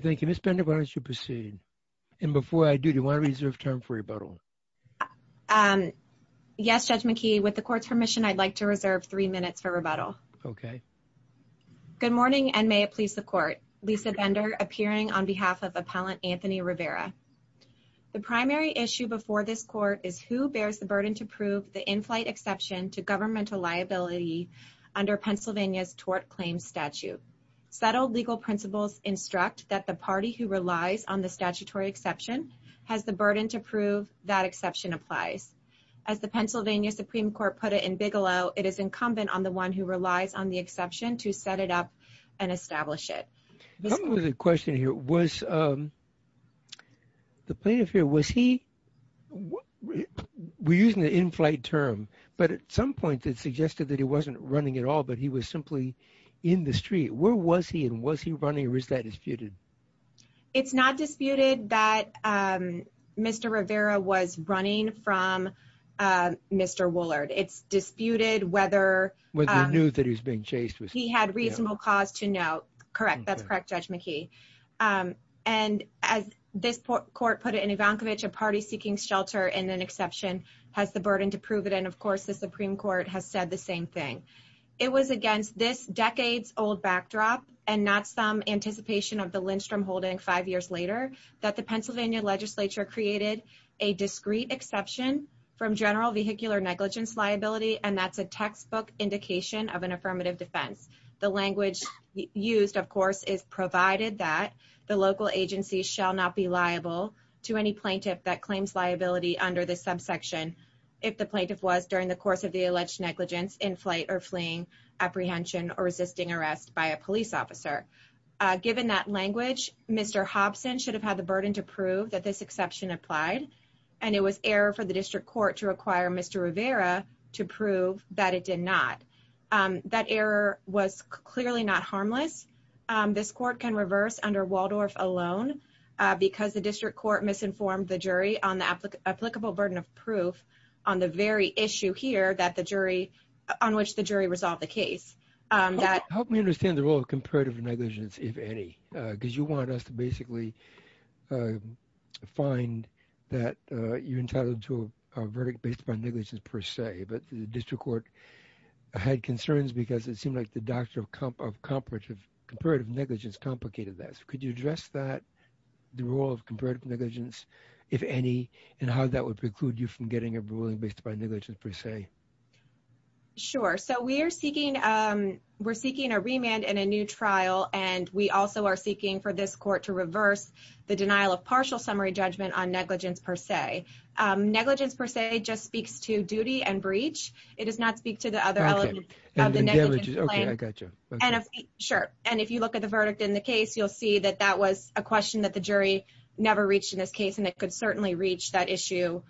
Thank you, Ms. Bender. Why don't you proceed? And before I do, do you want to reserve time for rebuttal? Yes, Judge McKee. With the Court's permission, I'd like to reserve three minutes for rebuttal. Okay. Good morning and may it please the Court. Lisa Bender appearing on behalf of Appellant Anthony Rivera. The primary issue before this Court is who bears the burden to prove the in-flight exception to governmental liability under Pennsylvania's tort claims statute. Settled legal principles instruct that the party who relies on the statutory exception has the burden to prove that exception applies. As the Pennsylvania Supreme Court put it in Bigelow, it is incumbent on the one who relies on the exception to set it up and establish it. I have a question here. Was the plaintiff here, was he, we're using the in-flight term, but at some point it suggested that he wasn't running at all, but he was simply in the street. Where was he and was he running or is that disputed? It's not disputed that Mr. Rivera was running from Mr. Woollard. It's disputed whether... Whether he knew that he was being chased. He had reasonable cause to know. Correct. That's correct, Judge McKee. And as this Court put it in Ivankovich, a party seeking shelter in an exception has the burden to prove it. And of course, the Supreme Court has said the same thing. It was against this decades old backdrop and not some anticipation of the Lindstrom holding five years later that the Pennsylvania legislature created a discrete exception from general vehicular negligence liability. And that's a textbook indication of an affirmative defense. The language used, of course, is provided that the local agency shall not be liable to any plaintiff that claims liability under this subsection. If the plaintiff was during the course of the negligence in flight or fleeing apprehension or resisting arrest by a police officer. Given that language, Mr. Hobson should have had the burden to prove that this exception applied. And it was error for the District Court to require Mr. Rivera to prove that it did not. That error was clearly not harmless. This Court can reverse under Waldorf alone because the District Court misinformed the jury on the applicable burden of proof on the very issue here that the jury, on which the jury resolved the case. Help me understand the role of comparative negligence, if any, because you want us to basically find that you're entitled to a verdict based upon negligence per se. But the District Court had concerns because it seemed like the doctrine of comparative negligence complicated this. Could you address that, the role of comparative negligence, if any, and how that precludes you from getting a ruling based upon negligence per se? Sure. So we're seeking a remand in a new trial, and we also are seeking for this Court to reverse the denial of partial summary judgment on negligence per se. Negligence per se just speaks to duty and breach. It does not speak to the other elements of the negligence claim. Okay, I got you. Sure. And if you look at the verdict in the case, you'll see that that was a question that the jury never reached in this case, and it could certainly reach that issue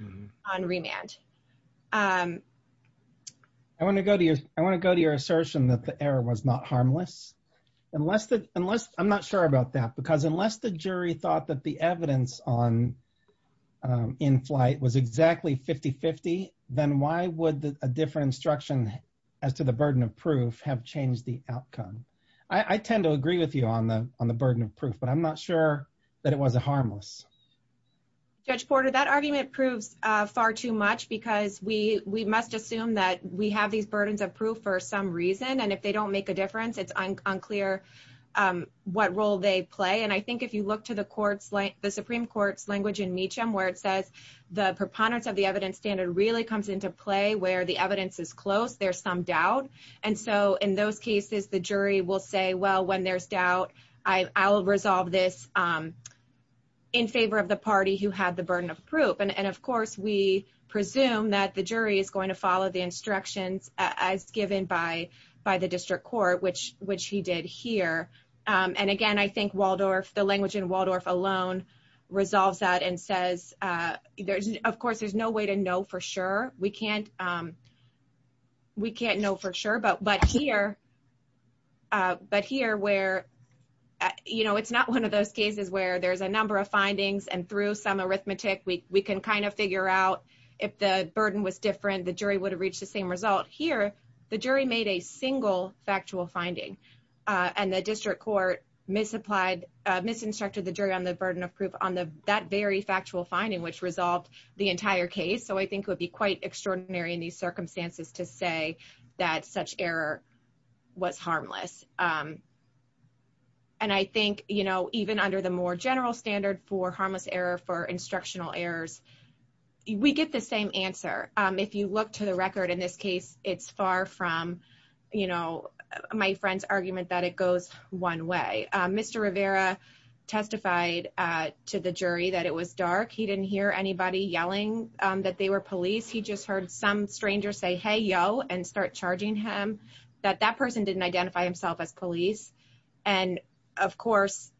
on remand. I want to go to your assertion that the error was not harmless. I'm not sure about that, because unless the jury thought that the evidence in flight was exactly 50-50, then why would a different instruction as to the burden of proof have changed the outcome? I tend to agree with you on the burden of proof, but I'm not sure that it was harmless. Judge Porter, that argument proves far too much, because we must assume that we have these burdens of proof for some reason, and if they don't make a difference, it's unclear what role they play. And I think if you look to the Supreme Court's language in Meacham, where it says the preponderance of the evidence standard really comes into play where the evidence is close, there's some doubt. And so in those cases, the jury will say, well, when there's doubt, I'll resolve this in favor of the party who had the burden of proof. And of course, we presume that the jury is going to follow the instructions as given by the district court, which he did here. And again, I think Waldorf, the language in Waldorf alone, resolves that and says, of course, there's no way to know for sure. We can't know for sure, but here where it's not one of those cases where there's a number of findings, and through some arithmetic, we can kind of figure out if the burden was different, the jury would have reached the same result. Here, the jury made a single factual finding, and the district court misapplied, misinstructed the jury on the burden of proof on that very factual finding, which resolved the entire case. So I think it would be quite extraordinary in these circumstances to say that such error was harmless. And I think, you know, even under the more general standard for harmless error for instructional errors, we get the same answer. If you look to the record in this case, it's far from, you know, my friend's argument that it goes one way. Mr. Rivera testified to the jury that it was dark. He didn't hear anybody yelling that they were police. He just heard some stranger say, hey, yo, and start charging him, that that person didn't identify himself as police. And of course,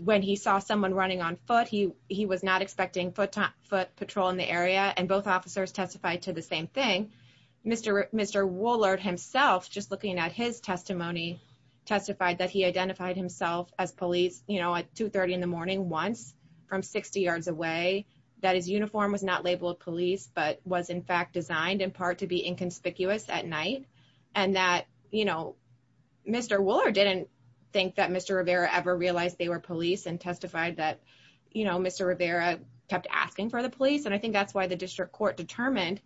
when he saw someone running on foot, he was not expecting foot patrol in the area, and both officers testified to the same thing. Mr. Woolard himself, just looking at his testimony, testified that he identified himself as police, you know, at 2.30 in the morning once from 60 yards away, that his uniform was not labeled police, but was in fact designed in part to be inconspicuous at night. And that, you know, Mr. Woolard didn't think that Mr. Rivera ever realized they were police and testified that, you know, Mr. Rivera kept asking for the police. And I think that's why the district court determined,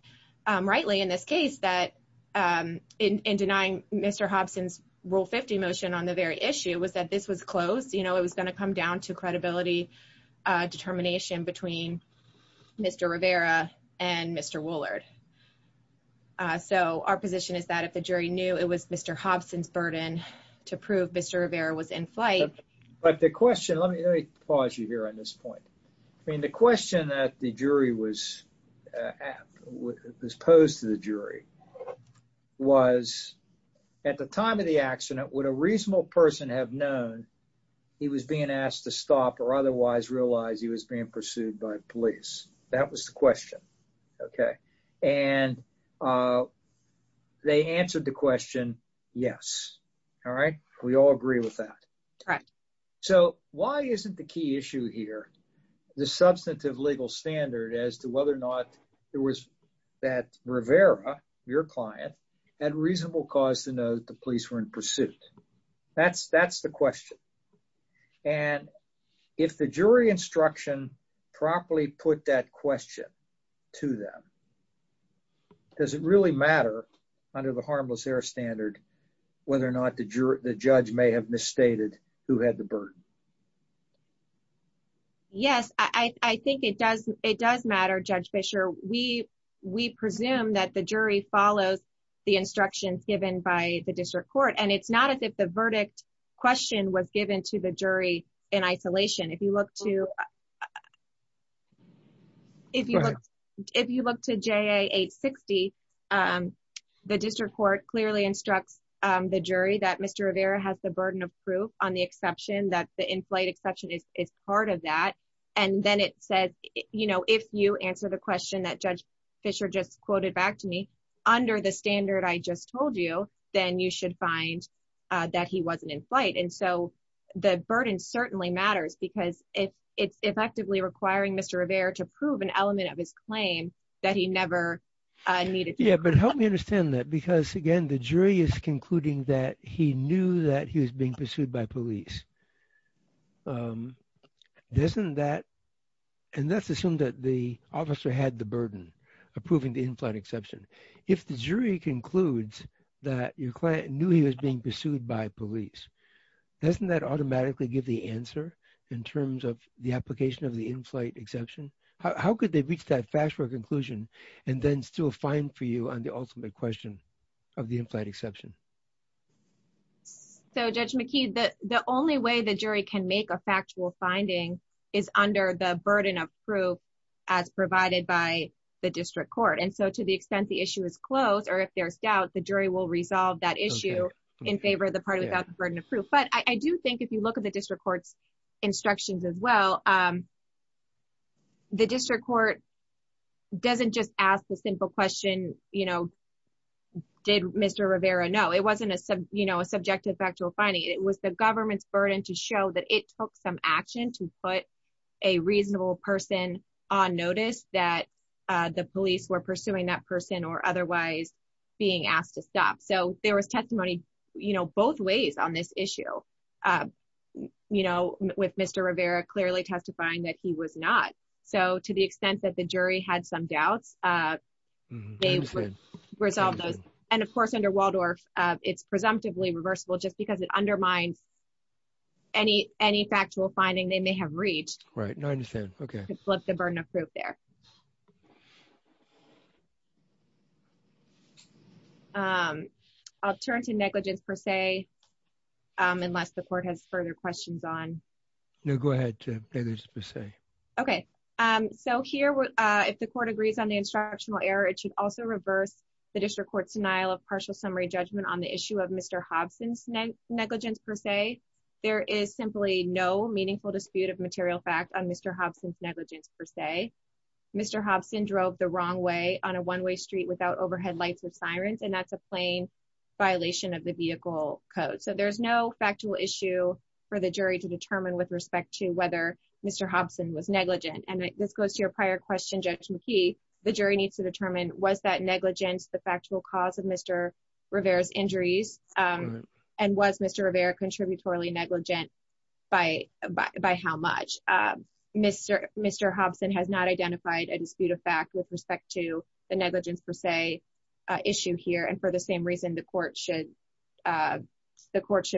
rightly in this case, that in denying Mr. Hobson's Rule 50 motion on the very issue was that this was closed, you know, it was going to come down to credibility determination between Mr. Rivera and Mr. Woolard. So our position is that if the jury knew it was Mr. Hobson's burden to prove Mr. Rivera was in flight. But the question, let me pause you here on this point. I mean, the question that the jury was posed to the jury was, at the time of the accident, would a reasonable person have known he was being asked to stop or otherwise realize he was being pursued by police? That was the question. Okay. And they answered the question. Yes. All right. We all agree with that. So why isn't the key issue here, the substantive legal standard as to whether or not it was that Rivera, your client, had reasonable cause to know that the police were in pursuit? That's the question. And if the jury instruction properly put that question to them, does it really matter under the harmless error standard, whether or not the judge may have misstated who had the burden? Yes, I think it does. It does matter, Judge Fischer. We presume that the jury follows the instructions given by the district court. And it's not as if the verdict question was given to the jury in isolation. If you look to if you look to JA 860, the district court clearly instructs the jury that Mr. Rivera has the burden of proof on the exception that the in-flight exception is part of that. And then it says, you know, if you answer the question that Judge Fischer just quoted back to me, under the standard I just told you, then you should find that he wasn't in flight. And so the burden certainly matters because it's effectively requiring Mr. Rivera to prove an element of his claim that he never needed. Yeah, but help me understand that because again, the jury is concluding that he knew that he was being pursued by police. Doesn't that, and let's assume that the officer had the burden of proving the in-flight exception. If the jury concludes that your client knew he was being pursued by police, doesn't that automatically give the answer in terms of the application of the in-flight exception? How could they reach that factual conclusion and then still find for you on the ultimate question of the in-flight exception? So Judge McKee, the only way the jury can make a factual finding is under the burden of proof as provided by the district court. And so to the extent the issue is closed or if there's doubt, the jury will resolve that issue in favor of the party without the burden of proof. But I do think if you look at the district court's instructions as well, the district court doesn't just ask the simple question, did Mr. Rivera know? It wasn't a subjective factual finding. It was the government's burden to show that it took some action to put a reasonable person on notice that the police were pursuing that person or otherwise being asked to stop. So there was testimony both ways on this issue. You know, with Mr. Rivera clearly testifying that he was not. So to the extent that the jury had some doubts, they would resolve those. And of course, under Waldorf, it's presumptively reversible just because it undermines any factual finding they may have reached. Right. I understand. Okay. To flip the burden of proof there. I'll turn to negligence per se, unless the court has further questions on. No, go ahead. Okay. So here, if the court agrees on the instructional error, it should also reverse the district court's denial of partial summary judgment on the issue of Mr. Hobson's negligence per se. There is simply no meaningful dispute of material fact on Mr. Hobson's negligence per se. Mr. Hobson drove the wrong way on a one-way street without overhead lights with sirens, and that's a plain violation of the vehicle code. So there's no factual issue for the jury to determine with respect to whether Mr. Hobson was negligent. And this goes to your prior question, Judge McKee. The jury needs to determine, was that negligence the factual cause of Mr. Rivera's injuries? And was Mr. Rivera contributory negligent by how much? Mr. Hobson has not identified a dispute of fact with respect to the negligence per se issue here. And for the same reason, the court should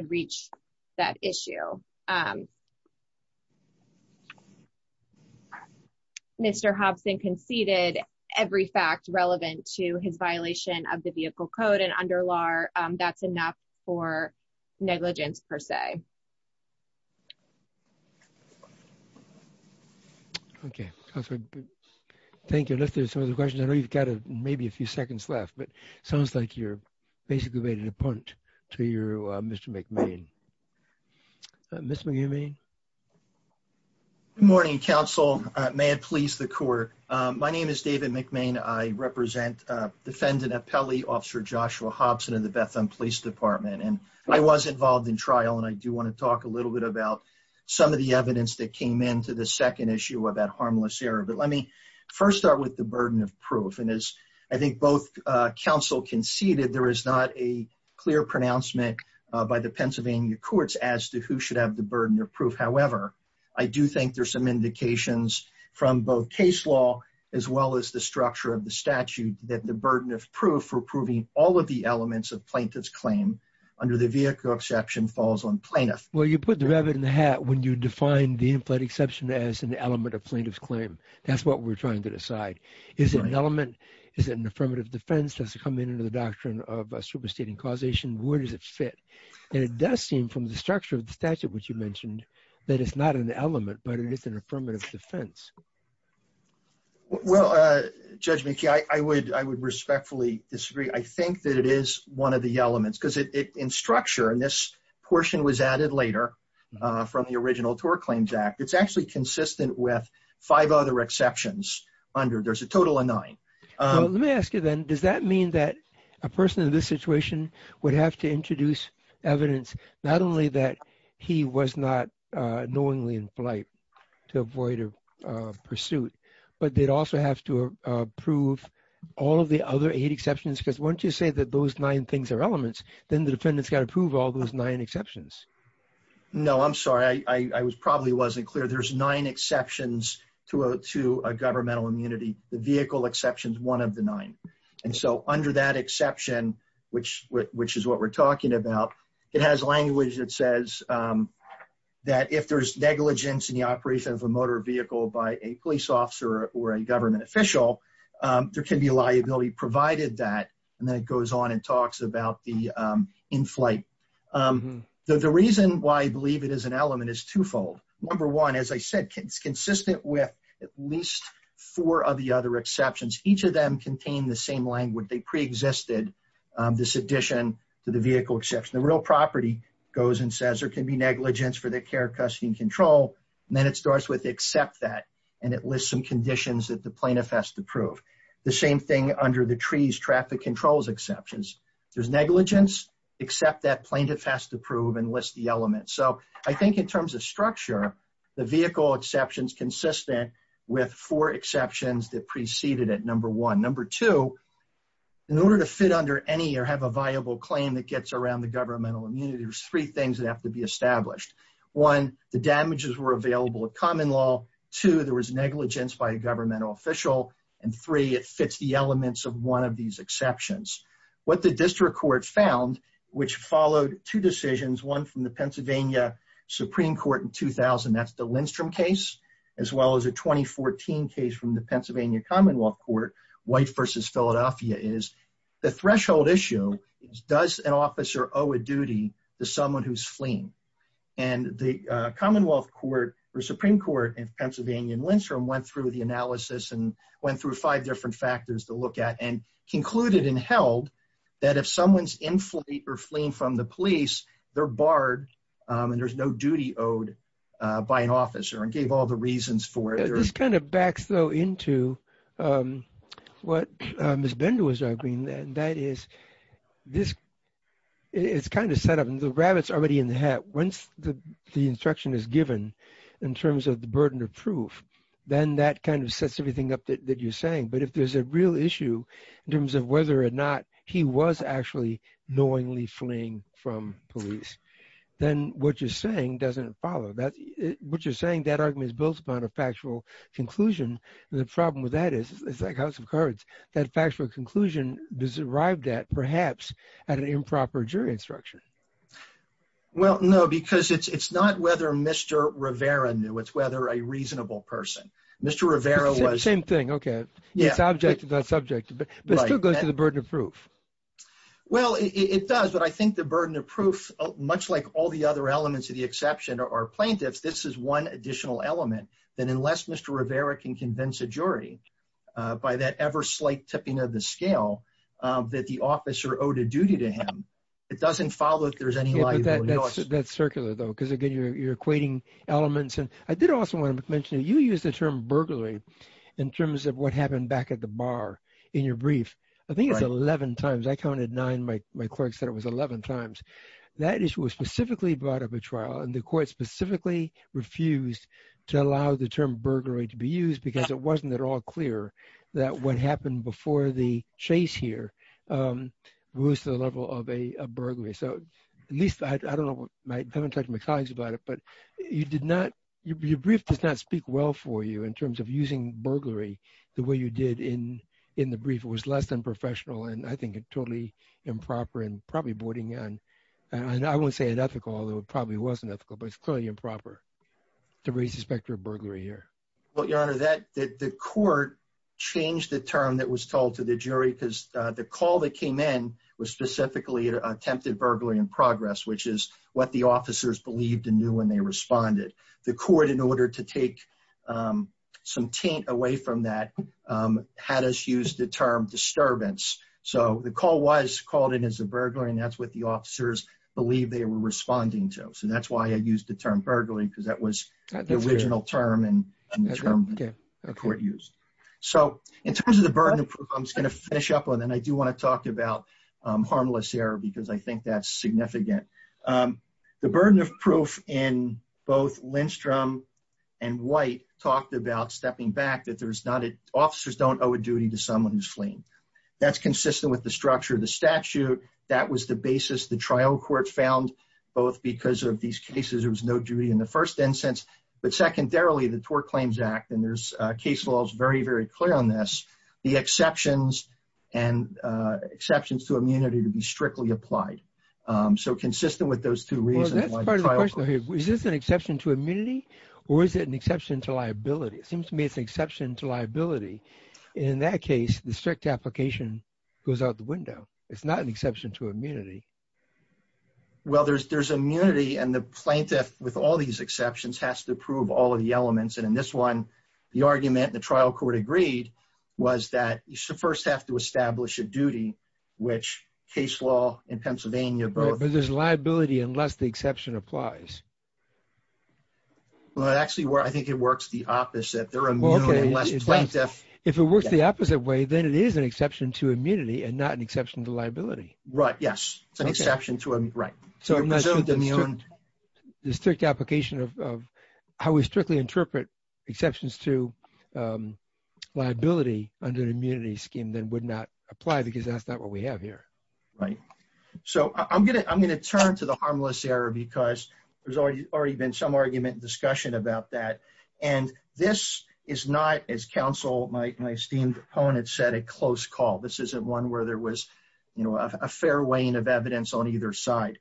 reach that issue. Mr. Hobson conceded every fact relevant to his violation of the vehicle code and under law, that's enough for negligence per se. Okay. Thank you. And if there's some other questions, I know you've got a, maybe a few seconds left, but it sounds like you're basically made an appointment to your Mr. McMahon. Mr. McMahon? Good morning, counsel. May it please the court. My name is David McMahon. I represent defendant appellee officer Joshua Hobson in the Bethlehem Police Department. And I was involved in trial, and I do want to talk a little bit about some of the evidence that came into the second issue about harmless error. But let me first start with the burden of proof. And as I think both counsel conceded, there is not a clear pronouncement by the Pennsylvania courts as to who should have the burden of proof. However, I do think there's some indications from both case law, as well as the structure of the statute, that the burden of proof for proving all of the elements of plaintiff's claim under the vehicle exception falls on plaintiff. Well, you put the rabbit in the hat when you define the in-flight exception as an element of plaintiff's claim. That's what we're trying to decide. Is it an element? Is it an affirmative defense? Does it come in under the doctrine of a superstating causation? Where does it fit? And it does seem from the structure of the statute, which you mentioned, that it's not an element, but it is an affirmative defense. Well, Judge McKee, I would respectfully disagree. I think that it is one of the elements, because in structure, and this portion was added later from the original TOR Claims Act, it's actually consistent with five other exceptions under. There's a total of nine. Let me ask you then, does that mean that a person in this situation would have to introduce evidence not only that he was not knowingly in flight to avoid a pursuit, but they'd also have to prove all of the other eight exceptions? Because once you say that those nine things are elements, then the defendant's got to prove all those nine exceptions. No, I'm sorry. I probably wasn't clear. There's nine exceptions to a governmental immunity. The exception, which is what we're talking about, it has language that says that if there's negligence in the operation of a motor vehicle by a police officer or a government official, there can be liability provided that, and then it goes on and talks about the in-flight. The reason why I believe it is an element is twofold. Number one, as I said, it's consistent with at least four of the other exceptions. Each of them contain the same language. They pre-existed this addition to the vehicle exception. The real property goes and says there can be negligence for the care, custody, and control, and then it starts with except that, and it lists some conditions that the plaintiff has to prove. The same thing under the trees, traffic controls exceptions. There's negligence, except that plaintiff has to prove and list the elements. So I think in with four exceptions that preceded it, number one. Number two, in order to fit under any or have a viable claim that gets around the governmental immunity, there's three things that have to be established. One, the damages were available at common law. Two, there was negligence by a governmental official. And three, it fits the elements of one of these exceptions. What the district court found, which followed two decisions, one from the Pennsylvania Supreme Court in 2000, that's the Lindstrom case, as well as a 2014 case from the Pennsylvania Commonwealth Court, White versus Philadelphia, is the threshold issue is does an officer owe a duty to someone who's fleeing? And the Commonwealth Court or Supreme Court in Pennsylvania and Lindstrom went through the analysis and went through five different factors to look at and concluded and held that if someone's in fleet or fleeing from the police, they're barred and there's no duty owed by an officer and gave all the reasons for it. This kind of backs though into what Ms. Bender was arguing, and that is this, it's kind of set up and the rabbit's already in the hat. Once the instruction is given, in terms of the burden of proof, then that kind of sets everything up that you're saying. But if there's a real issue, in terms of whether or not he was actually knowingly fleeing from police, then what you're saying doesn't follow that. What you're saying that argument is built upon a factual conclusion. The problem with that is, it's like House of Cards, that factual conclusion does arrived at perhaps at an improper jury instruction. Well, no, because it's not whether Mr. Rivera knew, it's whether a reasonable person, Mr. Rivera was... Same thing, okay. It's object to that subject, but it still goes to the burden of proof. Well, it does, but I think the burden of proof, much like all the other elements of the exception are plaintiffs, this is one additional element that unless Mr. Rivera can convince a jury by that ever slight tipping of the scale that the officer owed a duty to him, it doesn't follow that there's any liability. That's circular though, because again, you're equating elements. And I did also want to mention, you used the term burglary in terms of what happened back at the bar in your brief. I think it's 11 times, I counted nine, my clerk said it was 11 times. That issue was specifically brought up at trial and the court specifically refused to allow the term burglary to be used because it wasn't at all clear that what happened before the chase here was the level of a burglary. So at least I don't know, I haven't talked to my colleagues about it, you did not, your brief does not speak well for you in terms of using burglary the way you did in the brief. It was less than professional and I think it totally improper and probably boarding on, and I won't say it ethical, although it probably wasn't ethical, but it's clearly improper to raise the specter of burglary here. Well, your honor, the court changed the term that was told to the jury because the call that came in was specifically attempted burglary in progress, which is what the officers believed and knew and they responded. The court, in order to take some taint away from that, had us use the term disturbance. So the call was called in as a burglary and that's what the officers believe they were responding to. So that's why I used the term burglary because that was the original term and the term the court used. So in terms of the burden of proof, I'm just going to finish up and I do want to talk about harmless error because I think that's significant. The burden of proof in both Lindstrom and White talked about stepping back that there's not, officers don't owe a duty to someone who's fleeing. That's consistent with the structure of the statute. That was the basis the trial court found both because of these cases, there was no duty in the first instance, but secondarily, the Tort Claims Act, and there's case laws very, very clear on this, the exceptions and exceptions to immunity to be strictly applied. So consistent with those two reasons. Is this an exception to immunity or is it an exception to liability? It seems to me it's an exception to liability. In that case, the strict application goes out the window. It's not an exception to immunity. Well, there's immunity and the plaintiff with all these exceptions has to prove all of the elements. And in this one, the argument the trial court agreed was that you should first have to establish a duty, which case law in Pennsylvania, but there's liability unless the exception applies. Well, it actually works. I think it works the opposite. If it works the opposite way, then it is an exception to immunity and not an exception to liability. Right. Yes. It's an exception to, right. So the strict application of how we strictly interpret exceptions to liability under the immunity scheme then would not apply because that's what we have here. Right. So I'm going to turn to the harmless error because there's already been some argument and discussion about that. And this is not, as counsel, my esteemed opponent said, a close call. This isn't one where there was a fair weighing of evidence on either side.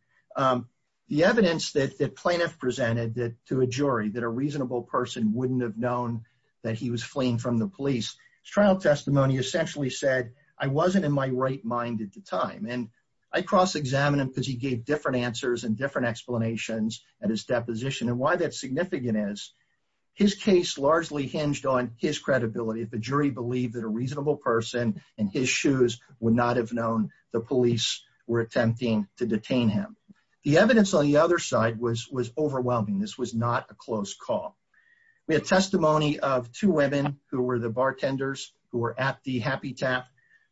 The evidence that the plaintiff presented to a jury that a reasonable person wouldn't have known that he was fleeing from the police trial testimony essentially said I wasn't in my right mind at the time. And I cross examine him because he gave different answers and different explanations at his deposition and why that's significant is his case largely hinged on his credibility. If a jury believed that a reasonable person and his shoes would not have known the police were attempting to detain him. The evidence on the other side was, was overwhelming. This was not a close call. We have testimony of two women who were the bartenders who were at the happy tap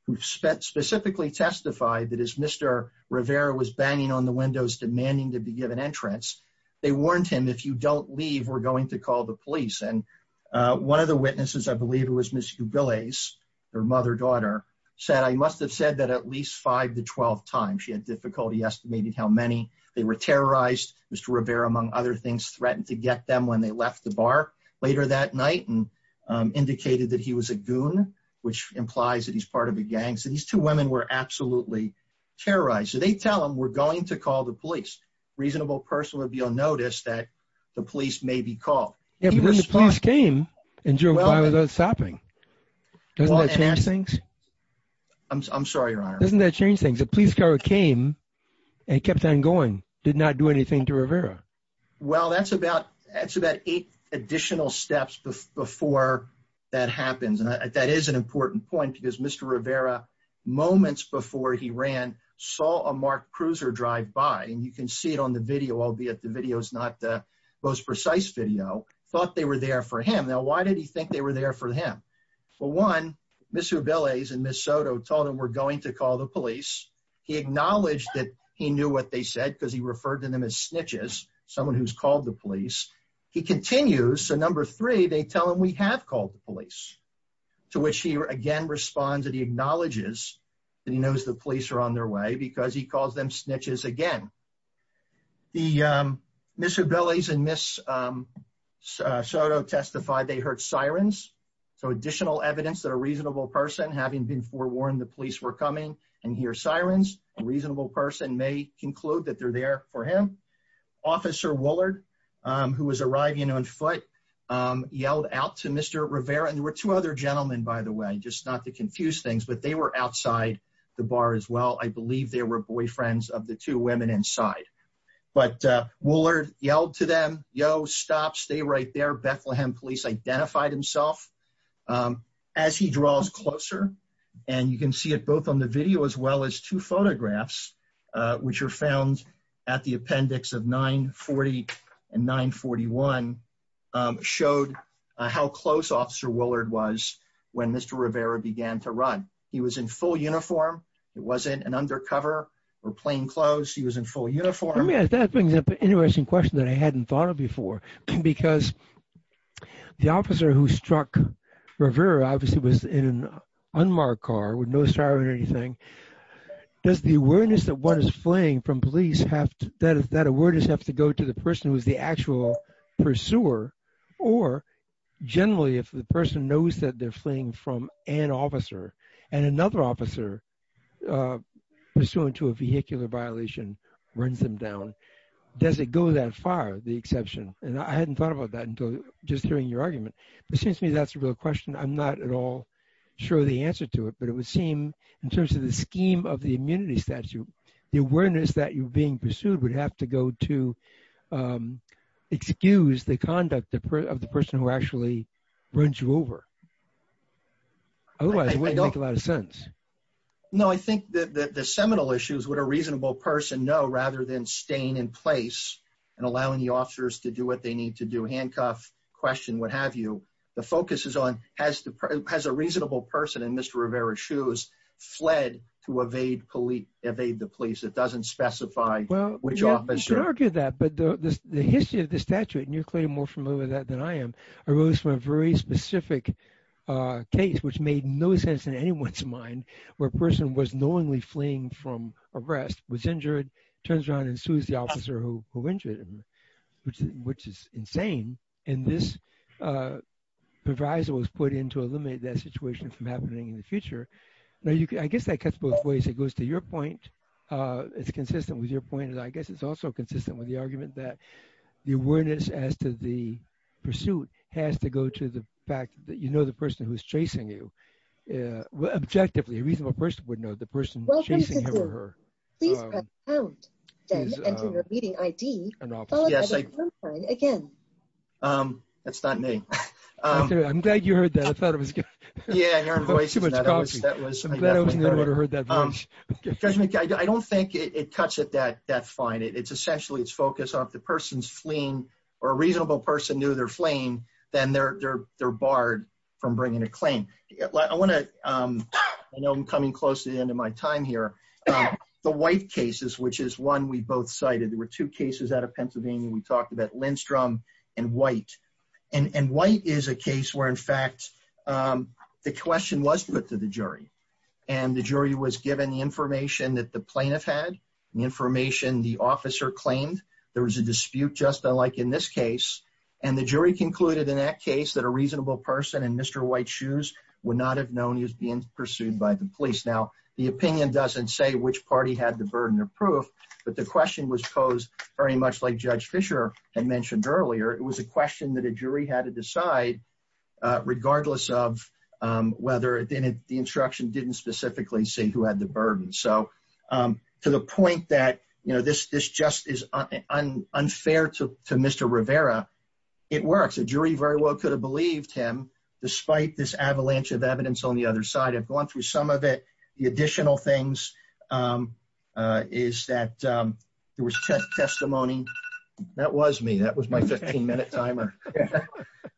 who spent specifically testified that is Mr. Rivera was banging on the windows demanding to be given entrance. They warned him if you don't leave, we're going to call the police. And one of the witnesses, I believe it was Ms. Jubilees, her mother daughter said, I must have said that at least five to 12 times she had difficulty estimating how many they were terrorized. Mr. Rivera, among other things, threatened to get them when they left the bar later that night and indicated that he was a goon, which implies that he's part of a gang. So these two women were absolutely terrorized. So they tell him we're going to call the police reasonable person would be on notice that the police may be called. Yeah, but when the police came and drove by without stopping, doesn't that change things? I'm sorry, your honor. Doesn't that change things? The police came and kept on going did not do anything to Rivera. Well, that's about that's about eight additional steps before that happens. And that is an important point because Mr. Rivera moments before he ran saw a Mark Cruiser drive by and you can see it on the video, albeit the video is not the most precise video thought they were there for him. Now, why did he think they were there for him? Well, one, Mr. Billies and Miss Soto told him we're going to call the police. He acknowledged that he knew what they said, because he referred to them as snitches, someone who's called the police. He continues. So number three, they tell him we have called the police, to which he again responds that he acknowledges that he knows the police are on their way because he calls them snitches again. The Mr. Billies and Miss Soto testified they heard sirens. So additional evidence that a reasonable person having been forewarned the police were coming and hear sirens, a reasonable person may conclude that they're there for him. Officer Willard, who was arriving on foot, yelled out to Mr. Rivera and there were two other gentlemen, by the way, just not to confuse things, but they were outside the bar as well. I believe they were boyfriends of the two women inside. But Willard yelled to them, yo, stop, stay right there. Bethlehem police identified himself. As he draws closer, and you can see it both on the video as well as two photographs, which are found at the appendix of 940 and 941, showed how close Officer Willard was when Mr. Rivera began to run. He was in full uniform. It wasn't an undercover or plain clothes. He was in full uniform. Yeah, that brings up an interesting question that I hadn't thought of before. Because the officer who struck Rivera obviously was in an unmarked car with no siren or anything. Does the awareness that one is fleeing from police have to go to the person who is the actual pursuer? Or generally, if the person knows that they're fleeing from an officer, and another officer pursuant to a vehicular violation runs them down, does it go that far, the exception? And I hadn't thought about that until just hearing your argument. It seems to me that's a real question. I'm not at all sure the answer to it. But it would seem in terms of the scheme of the immunity statute, the awareness that you're being pursued would have to go to excuse the conduct of the person who actually runs you over. Otherwise, it wouldn't make a lot of sense. No, I think that the seminal issue is what a reasonable person know rather than staying in place and allowing the officers to do what they need to do, handcuff, question, what have you. The focus is on has a reasonable person in Mr. Rivera's shoes fled to evade the police. It doesn't specify which officer. Well, you could argue that. But the history of the statute, and you're clearly more familiar with that than I am, arose from a very specific case, which made no sense in anyone's mind, where a person was knowingly fleeing from arrest, was injured, turns around and sues the officer who injured him, which is insane. And this proviso was put in to eliminate that situation from happening in the future. I guess that cuts both ways. It goes to your point. It's consistent with your point. And I guess it's also consistent with the argument that the awareness as to the pursuit has to go to the fact that you know the person who's chasing you. Objectively, a reasonable person would know the person chasing him or her. That's not me. I'm glad you heard that. I thought it was good. I don't think it cuts it that fine. It's essentially it's focused on if the person's fleeing, or a reasonable person knew they're fleeing, then they're barred from bringing a time here. The white cases, which is one we both cited, there were two cases out of Pennsylvania, we talked about Lindstrom and White. And White is a case where, in fact, the question was put to the jury. And the jury was given the information that the plaintiff had, the information the officer claimed. There was a dispute just like in this case. And the jury concluded in that case that a reasonable person in Mr. White's shoes would not have known he was being pursued by the police. Now, the opinion doesn't say which party had the burden of proof, but the question was posed very much like Judge Fischer had mentioned earlier. It was a question that a jury had to decide regardless of whether the instruction didn't specifically say who had the burden. So, to the point that, you know, this just is unfair to Mr. Rivera, it works. A jury very well could have believed him despite this avalanche of evidence on the other side. I've gone through some of it. The additional things is that there was testimony. That was me. That was my 15-minute timer.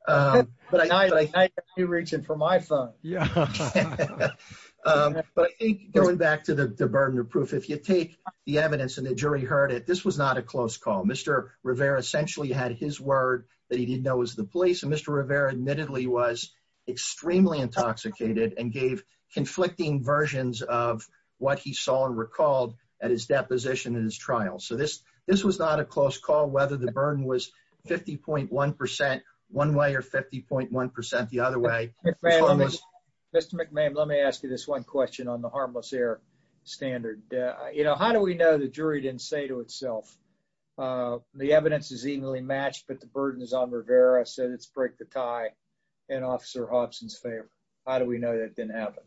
But I know you're reaching for my phone. Yeah. But I think going back to the burden of proof, if you take the evidence and the jury heard it, this was not a close call. Mr. Rivera essentially had his word that he didn't know was the police. And Mr. Rivera admittedly was extremely intoxicated and gave conflicting versions of what he saw and recalled at his deposition in his trial. So, this was not a close call, whether the burden was 50.1 percent one way or 50.1 percent the other way. Mr. McMahon, let me ask you this one question on the harmless error standard. You know, how do we know the jury didn't say to itself, the evidence is evenly matched, but the burden is on Rivera, said it's break the tie in Officer Hobson's favor. How do we know that didn't happen?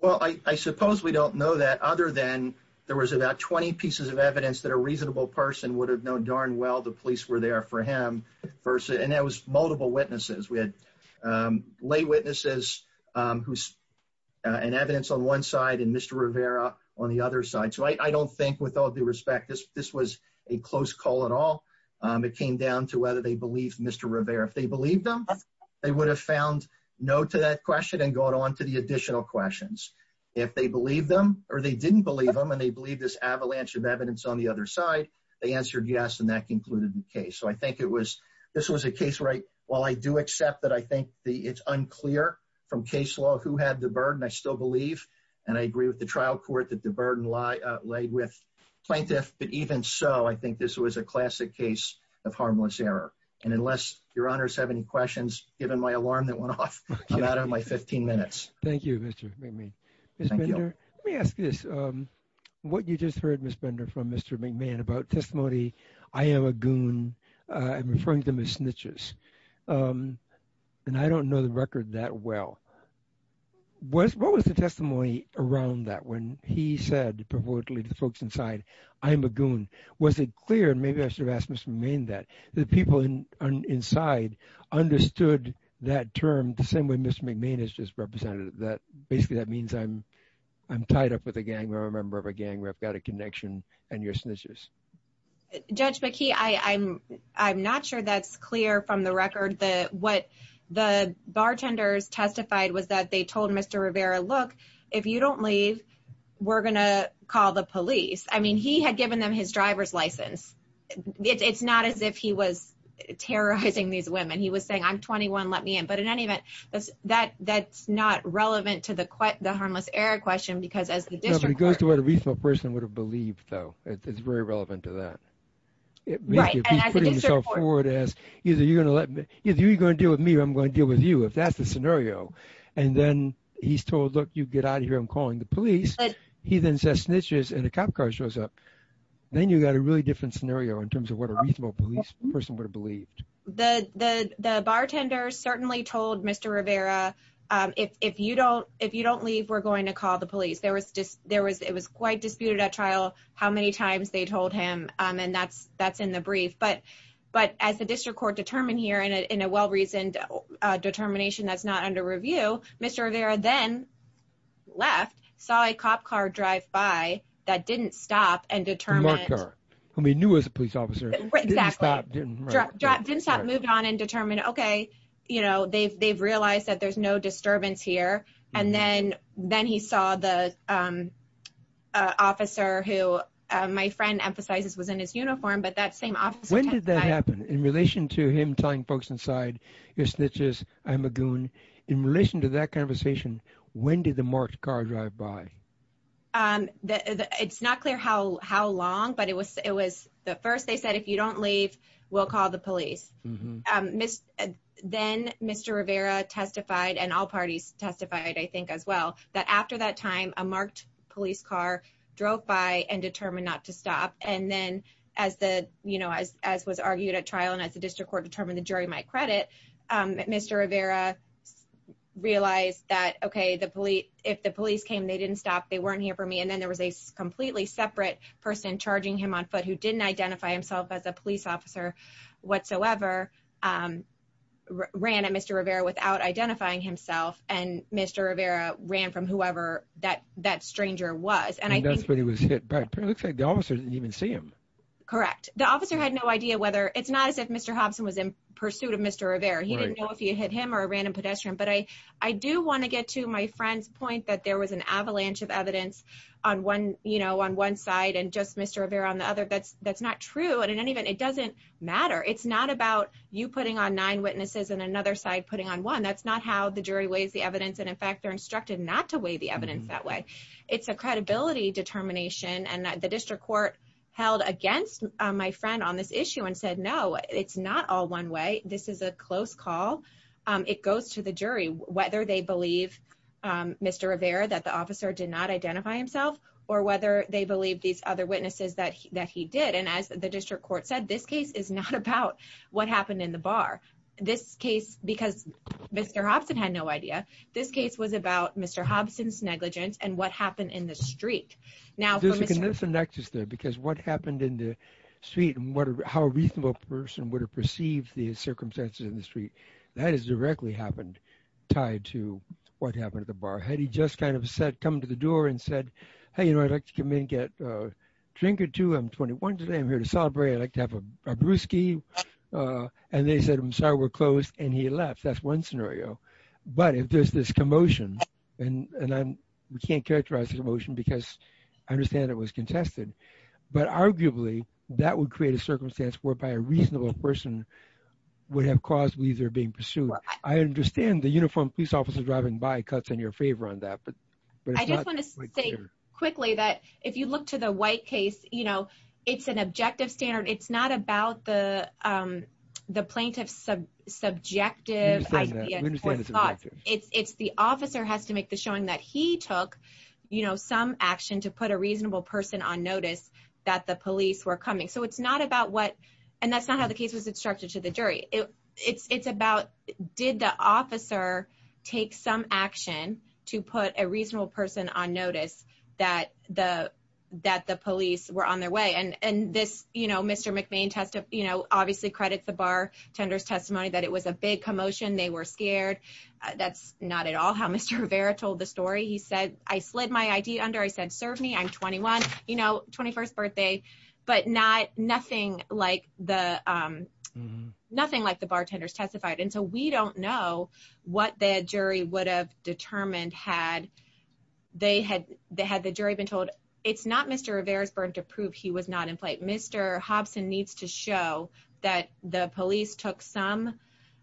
Well, I suppose we don't know that other than there was about 20 pieces of evidence that a reasonable person would have known darn well the police were there for him. And there was multiple witnesses. We had lay witnesses and evidence on one side and Mr. Rivera on the other side. So, I don't think with all due respect, this was a close call at all. It came down to whether they believed Mr. Rivera. If they believed him, they would have found no to that question and gone on to the additional questions. If they believed him or they didn't believe him and they believed this avalanche of evidence on the other side, they answered yes and that concluded the case. So, I think it was, this was a case where I, while I do accept that I think it's unclear from case law who had the burden, I still believe and I agree with the trial court that the burden laid with plaintiff. But even so, I think this was a classic case of harmless error. And unless your honors have any questions, given my alarm that went off, I'm out of my 15 minutes. Thank you, Mr. McMahon. Ms. Bender, let me ask you this. What you just heard, Ms. Bender, from Mr. McMahon about testimony, I am a goon. I'm referring to them as snitches. And I don't know the record that well. What was the testimony around that when he said provocatively to the folks inside, I'm a goon? Was it clear, and maybe I should have asked Mr. McMahon that, that people inside understood that term the same way Mr. McMahon has just represented it, that basically that means I'm tied up with a gang or a member of a gang where I've got a connection and you're snitches? Judge McKee, I'm not sure that's clear from the record. What the bartenders testified was that they told Mr. Rivera, look, if you don't leave, we're going to call the police. I mean, he had given them his driver's license. It's not as if he was terrorizing these women. He was saying, I'm 21, let me in. But in any event, that's not relevant to the harmless error question because as the district court- No, but it goes to what a reasonable person would have believed, though. It's very relevant to that. Right, and as a district court- He's putting himself forward as, either you're going to let me, if you're going to deal with me, I'm going to deal with you, if that's the scenario. And then he's told, look, you get out of here, I'm calling the police. He then says snitches and a cop car shows up. Then you got a really different scenario in terms of what a reasonable police person would have believed. The bartender certainly told Mr. Rivera, if you don't leave, we're going to call the police. It was quite disputed at trial how many times they told him, and that's in the brief. But as the district court determined here in a well-reasoned determination that's not under review, Mr. Rivera then left, saw a cop car drive by that didn't stop and determined- A mart car, who he knew was a police officer. Exactly. Didn't stop, moved on and determined, okay, they've realized that there's no disturbance here. And then he saw the officer who my friend emphasizes was in his uniform, but that same officer- When did that happen? In relation to him telling folks inside, you're snitches, I'm a goon. In relation to that conversation, when did the marked car drive by? It's not clear how long, but it was the first they said, if you don't leave, we'll call the police, testified, I think as well, that after that time, a marked police car drove by and determined not to stop. And then as was argued at trial and as the district court determined the jury might credit, Mr. Rivera realized that, okay, if the police came, they didn't stop, they weren't here for me. And then there was a completely separate person charging him on foot who didn't identify himself as a police officer whatsoever, ran at Mr. Rivera without identifying himself. And Mr. Rivera ran from whoever that stranger was. And I think- And that's when he was hit back. It looks like the officer didn't even see him. Correct. The officer had no idea whether, it's not as if Mr. Hobson was in pursuit of Mr. Rivera, he didn't know if he had hit him or a random pedestrian. But I do want to get to my friend's point that there was an avalanche of evidence on one side and just Mr. Rivera on the other. That's not true. And in any event, it doesn't matter. It's not about you putting on nine and in fact, they're instructed not to weigh the evidence that way. It's a credibility determination. And the district court held against my friend on this issue and said, no, it's not all one way. This is a close call. It goes to the jury, whether they believe Mr. Rivera, that the officer did not identify himself or whether they believe these other witnesses that he did. And as the district court said, this case is not about what happened in the street. This case was about Mr. Hobson's negligence and what happened in the street. Now, there's a connection there because what happened in the street and how a reasonable person would have perceived the circumstances in the street, that is directly happened, tied to what happened at the bar. Had he just kind of said, come to the door and said, hey, you know, I'd like to come in and get a drink or two. I'm 21 today. I'm here to celebrate. I'd like to have a brewski. And they said, I'm sorry, we're closed. And he left. That's one scenario. But if there's this commotion, and we can't characterize the commotion because I understand it was contested. But arguably, that would create a circumstance whereby a reasonable person would have caused either being pursued. I understand the uniformed police officer driving by cuts in your favor on that. But I just want to say quickly that if you look to the white case, it's an objective standard. It's not about the plaintiff's subjective thoughts. It's the officer has to make the showing that he took some action to put a reasonable person on notice that the police were coming. So it's not about what and that's not how the case was instructed to the jury. It's about did the officer take some action to put a reasonable person on notice that the that the police were on their way and and this, you know, Mr. McVean tested, you know, obviously credits the bar tenders testimony that it was a big commotion. They were scared. That's not at all how Mr. Rivera told the story. He said, I slid my ID under I said serve me I'm 21, you know, 21st birthday, but not nothing like the nothing like the bartenders testified. And so we don't know what the jury would have determined had they had they had the jury been told it's not Mr. Rivera's burden to prove he was not in play. Mr. Hobson needs to show that the police took some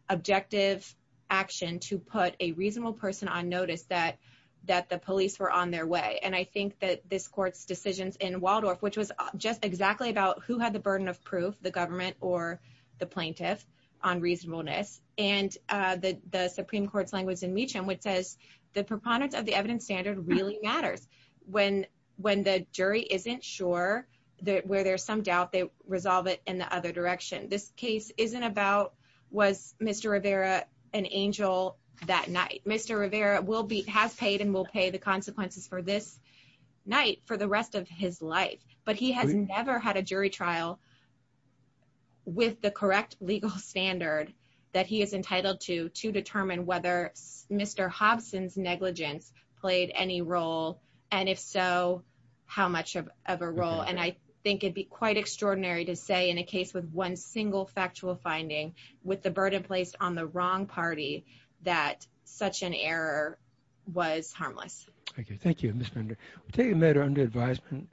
objective action to put a reasonable person on notice that that the police were on their way. And I think that this court's decisions in Waldorf, which was just exactly about who had the burden of proof the government or the plaintiff on reasonableness and the Supreme Court's language in Meacham, which says the preponderance of the evidence standard really matters when when the jury isn't sure that where there's some doubt they resolve it in the other direction. This case isn't about was Mr. Rivera an angel that night. Mr. Rivera will be has paid and will pay the consequences for this night for the rest of his life. But he has never had a jury trial with the correct legal standard that he is entitled to to determine whether Mr. Hobson's negligence played any role, and if so, how much of a role and I think it'd be quite extraordinary to say in a case with one single factual finding with the burden placed on the wrong party that such an error was harmless. Thank you. Thank you, Mr. Take a matter under advisement.